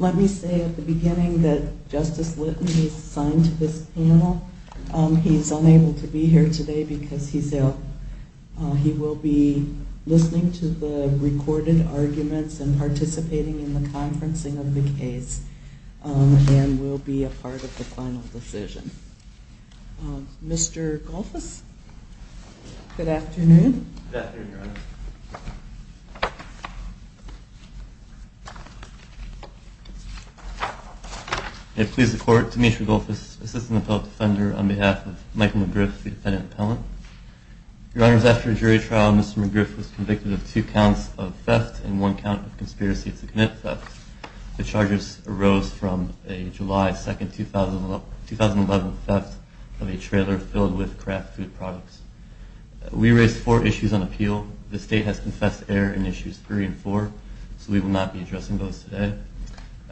Let me say at the beginning that Justice Litton is assigned to this panel. He's unable to be here today because he will be listening to the recorded arguments and participating in the conferencing of the case and will be a part of the court hearing. Mr. Golfus, good afternoon. Good afternoon, Your Honor. May it please the Court, Demetri Golfus, Assistant Appellate Defender, on behalf of Michael McGriff, the defendant appellant. Your Honors, after a jury trial, Mr. McGriff was convicted of two counts of theft and one count of conspiracy to commit theft. The charges arose from a July 2, 2011 theft of a trailer filled with craft food products. We raised four issues on appeal. The State has confessed to error in issues 3 and 4, so we will not be addressing those today.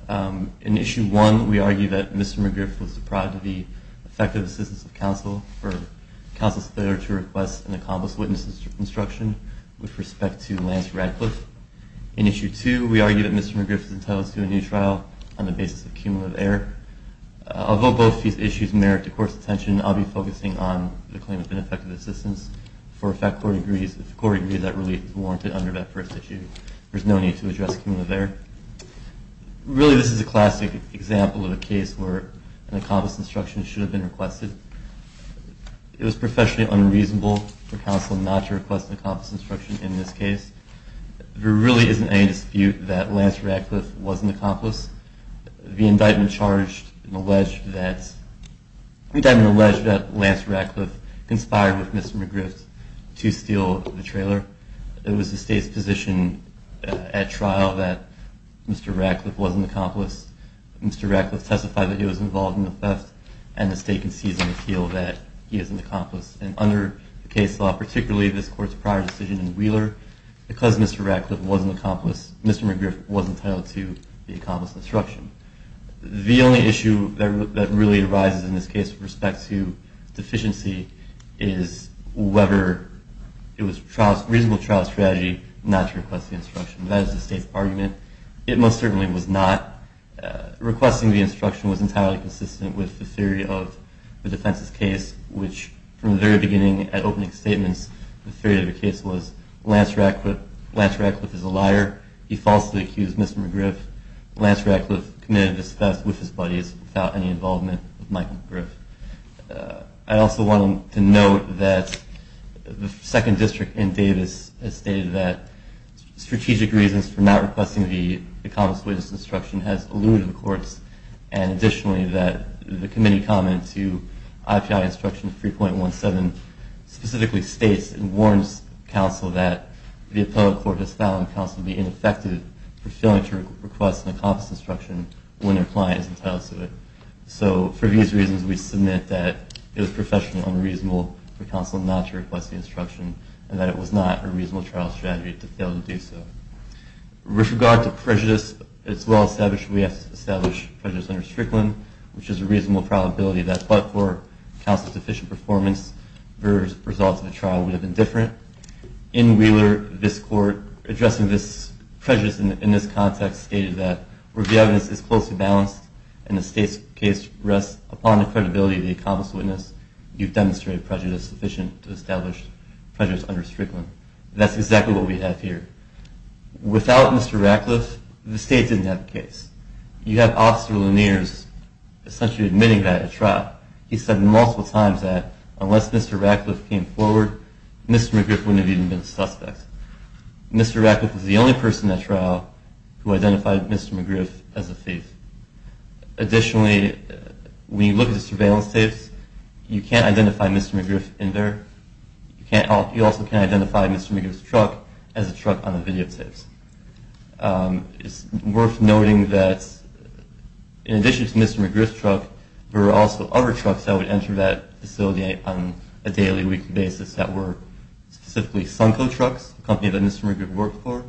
In issue 1, we argue that Mr. McGriff was deprived of the effective assistance of counsel for counsel's failure to request and accomplish witness instruction with respect to Lance Radcliffe. In issue 2, we argue that Mr. McGriff is entitled to a new trial on the basis of cumulative error. Although both these issues merit the Court's attention, I will be focusing on the claim of ineffective assistance for effect court agrees that relief is warranted under that first issue. There is no need to address cumulative error. Really, this is a classic example of a case where an accomplished instruction should have been requested. It was professionally unreasonable for counsel not to request an accomplished instruction in this case. There really isn't any dispute that Lance Radcliffe was an accomplice. The indictment alleged that Lance Radcliffe conspired with Mr. McGriff to steal the trailer. It was the State's position at trial that Mr. Radcliffe was an accomplice. Mr. Radcliffe testified that he was involved in the theft, and the State concedes on appeal that he is an accomplice. And under the case law, particularly this Court's prior decision in Wheeler, because Mr. Radcliffe was an accomplice, Mr. McGriff was entitled to the accomplished instruction. The only issue that really arises in this case with respect to deficiency is whether it was a reasonable trial strategy not to request the instruction. That is the State's argument. It most certainly was not. Requesting the instruction was entirely consistent with the theory of the defense's case, which from the very beginning at opening statements, the theory of the case was Lance Radcliffe is a liar. He falsely accused Mr. McGriff. Lance Radcliffe committed this theft with his buddies without any involvement of Michael McGriff. I also want to note that the second district in Davis has stated that strategic reasons for not requesting the accomplished instruction has eluded the courts, and additionally that the committee comment to IPI instruction 3.17 specifically states and warns counsel that the appellate court has found counsel to be ineffective for failing to request an accomplished instruction when their client is entitled to it. So for these reasons, we submit that it was professionally unreasonable for counsel not to request the instruction and that it was not a reasonable trial strategy to fail to do so. With regard to prejudice, it's well established we have to establish prejudice under Strickland, which is a reasonable probability that but-for counsel's deficient performance, the results of the trial would have been different. In Wheeler, this court, addressing this prejudice in this context, stated that where the evidence is closely balanced and the state's case rests upon the credibility of the accomplished witness, you've demonstrated prejudice sufficient to establish prejudice under Strickland. That's exactly what we have here. Without Mr. Radcliffe, the state didn't have a case. You have Officer Lanier's essentially admitting that at trial. He said multiple times that unless Mr. Radcliffe came forward, Mr. McGriff wouldn't have even been a suspect. Mr. Radcliffe was the only person at trial who identified Mr. McGriff as a thief. Additionally, when you look at the surveillance tapes, you can't identify Mr. McGriff in there. You also can't identify Mr. McGriff's truck as a truck on the videotapes. It's worth noting that in addition to Mr. McGriff's truck, there were also other trucks that would enter that facility on a daily, weekly basis that were specifically Sunco Trucks, a company that Mr. McGriff worked for,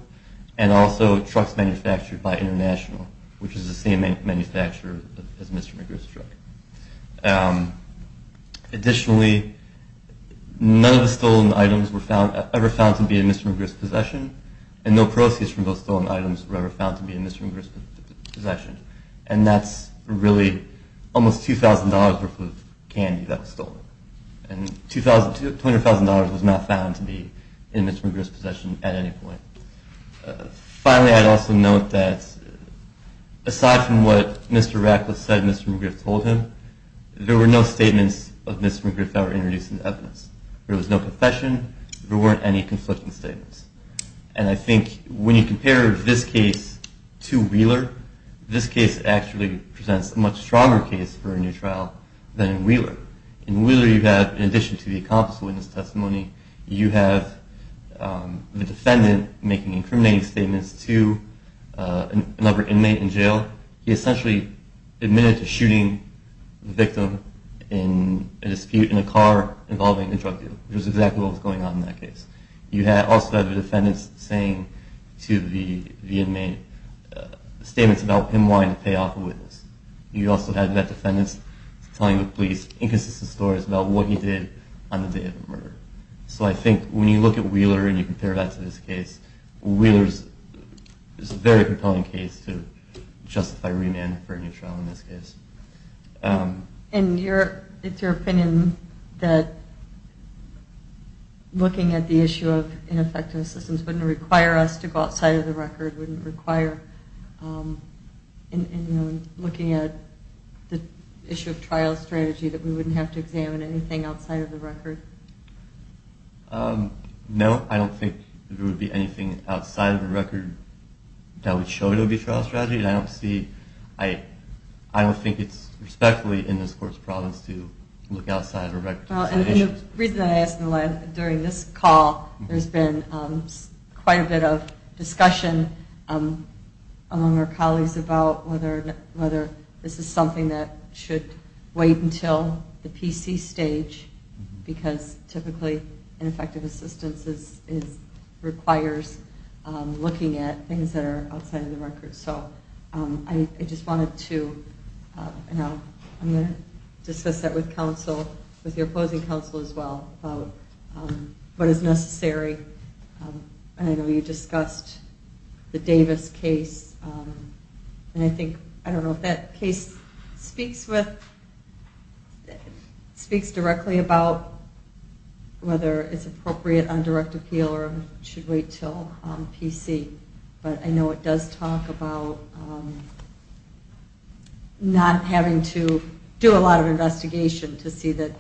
and also trucks manufactured by International, which is the same manufacturer as Mr. McGriff's truck. Additionally, none of the stolen items were ever found to be in Mr. McGriff's possession, and no proceeds from those stolen items were ever found to be in Mr. McGriff's possession. And that's really almost $2,000 worth of candy that was stolen. And $200,000 was not found to be in Mr. McGriff's possession at any point. Finally, I'd also note that aside from what Mr. Radcliffe said Mr. McGriff told him, there were no statements of Mr. McGriff that were introduced into evidence. There was no confession. There weren't any conflicting statements. And I think when you compare this case to Wheeler, this case actually presents a much stronger case for a new trial than in Wheeler. In Wheeler you have, in addition to the accomplice witness testimony, you have the defendant making incriminating statements to another inmate in jail. He essentially admitted to shooting the victim in a dispute in a car involving a drug dealer, which is exactly what was going on in that case. You also have the defendants saying to the inmate statements about him wanting to pay off a witness. You also have the defendants telling the police inconsistent stories about what he did on the day of the murder. So I think when you look at Wheeler and you compare that to this case, Wheeler is a very compelling case to justify remand for a new trial in this case. And it's your opinion that looking at the issue of ineffective assistance wouldn't require us to go outside of the record, and looking at the issue of trial strategy, that we wouldn't have to examine anything outside of the record? No, I don't think there would be anything outside of the record that would show it would be trial strategy. I don't think it's respectfully in this court's province to look outside of the record. The reason I ask, during this call, there's been quite a bit of discussion among our colleagues about whether this is something that should wait until the PC stage, because typically ineffective assistance requires looking at things that are outside of the record. I just wanted to discuss that with counsel, with your opposing counsel as well, about what is necessary. I know you discussed the Davis case, and I think, I don't know if that case speaks directly about whether it's appropriate on direct appeal or should wait until PC, but I know it does talk about not having to do a lot of investigation to see that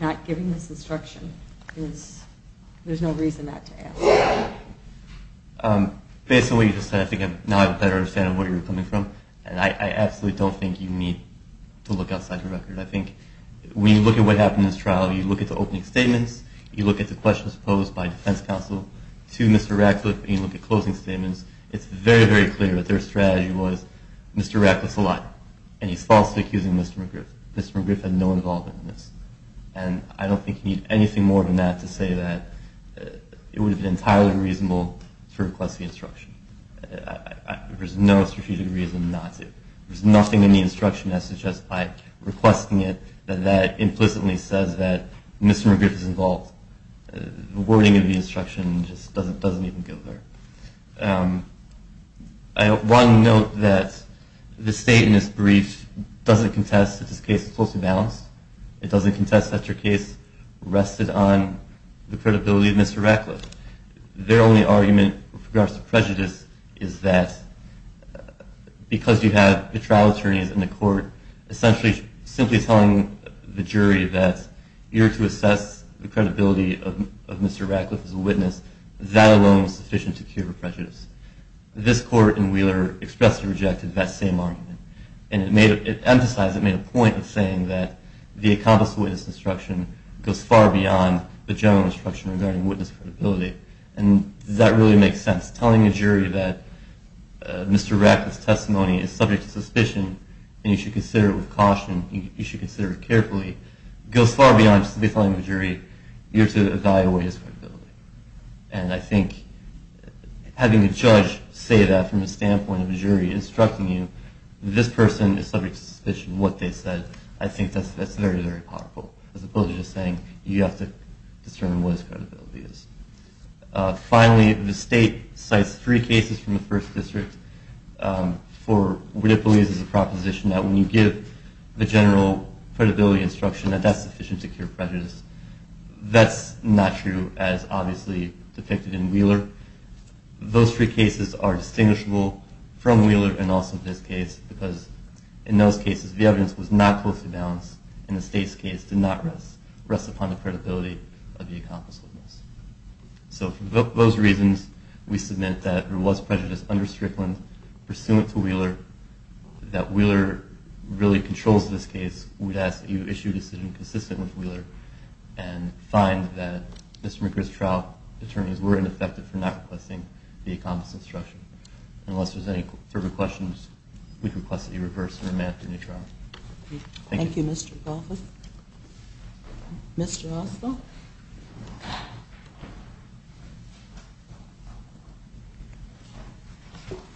not giving this instruction is, there's no reason not to ask. Based on what you just said, I think now I better understand where you're coming from, and I absolutely don't think you need to look outside the record. I think when you look at what happened in this trial, you look at the opening statements, you look at the questions posed by defense counsel, to Mr. Radcliffe, and you look at closing statements, it's very, very clear that their strategy was, Mr. Radcliffe's a liar, and he's falsely accusing Mr. McGriff. Mr. McGriff had no involvement in this. And I don't think you need anything more than that to say that it would have been entirely reasonable to request the instruction. There's no strategic reason not to. There's nothing in the instruction that suggests by requesting it that that implicitly says that Mr. McGriff is involved. The wording of the instruction just doesn't even go there. I want to note that the state in this brief doesn't contest that this case is closely balanced. It doesn't contest that your case rested on the credibility of Mr. Radcliffe. Their only argument with regards to prejudice is that because you have the trial attorneys in the court essentially simply telling the jury that you're to assess the credibility of Mr. Radcliffe as a witness, that alone is sufficient to cure prejudice. This court in Wheeler expressly rejected that same argument. And it emphasized, it made a point in saying that the accomplice witness instruction goes far beyond the general instruction regarding witness credibility. And does that really make sense? Telling a jury that Mr. Radcliffe's testimony is subject to suspicion and you should consider it with caution, you should consider it carefully, goes far beyond simply telling the jury you're to evaluate his credibility. And I think having a judge say that from the standpoint of a jury instructing you, this person is subject to suspicion of what they said, I think that's very, very powerful, as opposed to just saying you have to discern what his credibility is. Finally, the state cites three cases from the first district for what it believes is a proposition that when you give the general credibility instruction that that's sufficient to cure prejudice. That's not true, as obviously depicted in Wheeler. Those three cases are distinguishable from Wheeler and also this case, because in those cases the evidence was not closely balanced, and the state's case did not rest upon the credibility of the accomplice witness. So for those reasons, we submit that there was prejudice under Strickland pursuant to Wheeler, that Wheeler really controls this case. And find that Mr. McGriff's trial attorneys were ineffective for not requesting the accomplice instruction. Unless there's any further questions, we request that you reverse the remand to a new trial. Thank you. Thank you, Mr. McAuliffe. Mr. Oswald.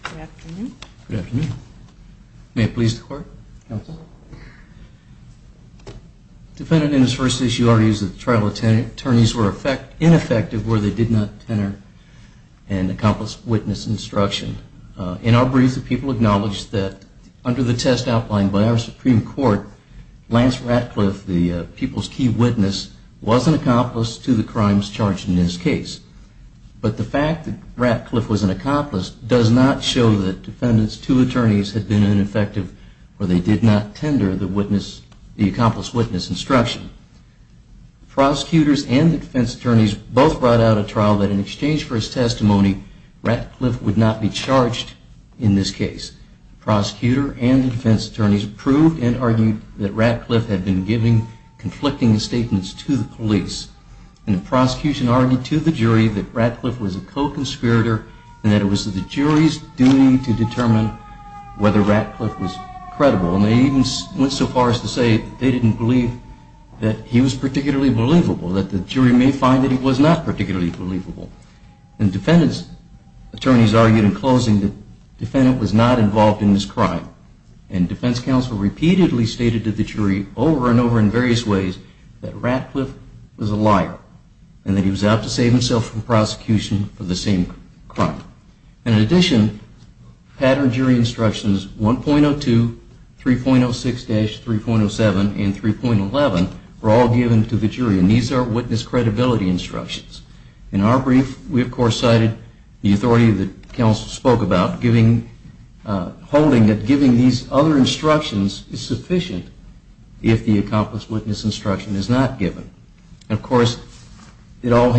Good afternoon. Good afternoon. May it please the Court, counsel. The defendant in his first issue argues that the trial attorneys were ineffective where they did not enter an accomplice witness instruction. In our brief, the people acknowledged that under the test outlined by our Supreme Court, Lance Ratcliffe, the people's key witness, was an accomplice to the crimes charged in this case. But the fact that Ratcliffe was an accomplice does not show that the defendant's two attorneys had been ineffective where they did not tender the accomplice witness instruction. Prosecutors and defense attorneys both brought out a trial that in exchange for his testimony, Ratcliffe would not be charged in this case. Prosecutor and defense attorneys proved and argued that Ratcliffe had been giving conflicting statements to the police. And the prosecution argued to the jury that Ratcliffe was a co-conspirator and that it was the jury's duty to determine whether Ratcliffe was credible. And they even went so far as to say they didn't believe that he was particularly believable, that the jury may find that he was not particularly believable. And defense attorneys argued in closing that the defendant was not involved in this crime. And defense counsel repeatedly stated to the jury over and over in various ways that Ratcliffe was a liar and that he was out to save himself from prosecution for the same crime. And in addition, pattern jury instructions 1.02, 3.06-3.07, and 3.11 were all given to the jury. And these are witness credibility instructions. In our brief, we of course cited the authority that counsel spoke about, holding that giving these other instructions is sufficient if the accomplice witness instruction is not given. And of course, it all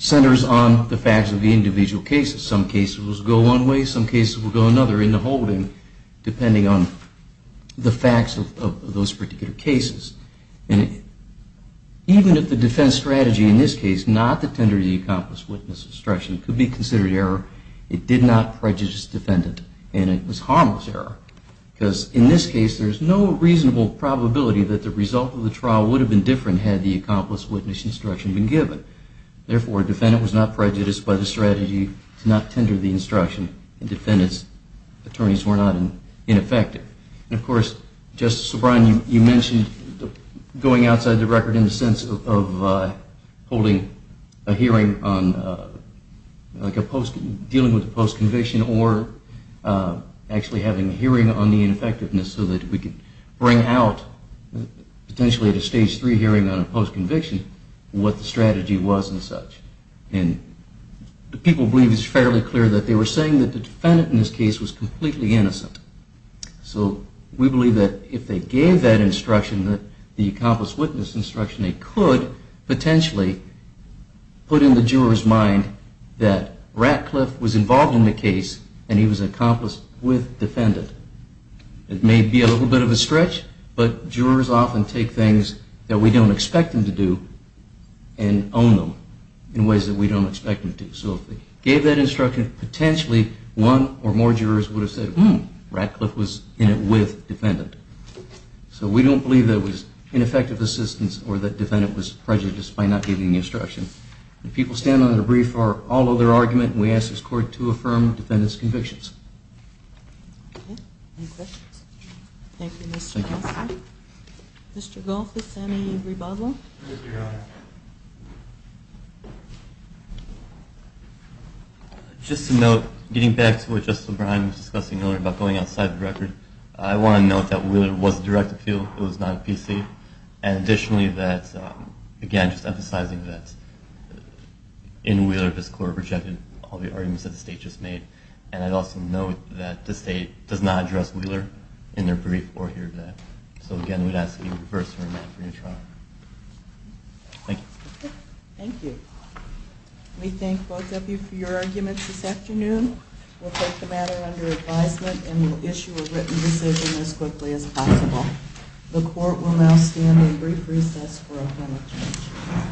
centers on the facts of the individual cases. Some cases will go one way, some cases will go another in the holding, depending on the facts of those particular cases. And even if the defense strategy in this case, not the tender the accomplice witness instruction, could be considered error, it did not prejudice the defendant, and it was harmless error. Because in this case, there's no reasonable probability that the result of the trial would have been different had the accomplice witness instruction been given. Therefore, a defendant was not prejudiced by the strategy to not tender the instruction, and defendants attorneys were not ineffective. And of course, Justice O'Brien, you mentioned going outside the record in the sense of holding a hearing on, like dealing with a post-conviction, or actually having a hearing on the ineffectiveness so that we could bring out, potentially at a stage three hearing on a post-conviction, what the strategy was and such. And the people believe it's fairly clear that they were saying that the defendant in this case was completely innocent. So we believe that if they gave that instruction, the accomplice witness instruction, they could potentially put in the juror's mind that Ratcliffe was involved in the case, and he was an accomplice with defendant. It may be a little bit of a stretch, but jurors often take things that we don't expect them to do and own them in ways that we don't expect them to. So if they gave that instruction, potentially one or more jurors would have said, hmm, Ratcliffe was in it with defendant. So we don't believe that it was ineffective assistance or that defendant was prejudiced by not giving the instruction. The people standing on the brief are all of their argument, and we ask this court to affirm the defendant's convictions. Okay. Any questions? Thank you, Mr. Constable. Thank you. Mr. Goff, is there any rebuttal? Mr. Goff. Just to note, getting back to what Justice O'Brien was discussing earlier about going outside the record, I want to note that Wheeler was a direct appeal. It was not a PC. And additionally, again, just emphasizing that in Wheeler this court rejected all the arguments that the state just made. And I'd also note that the state does not address Wheeler in their brief or hear that. So again, we'd ask that you reverse your amendment for your trial. Thank you. Thank you. We thank both of you for your arguments this afternoon. We'll take the matter under advisement and we'll issue a written decision as quickly as possible. The court will now stand in brief recess for a moment.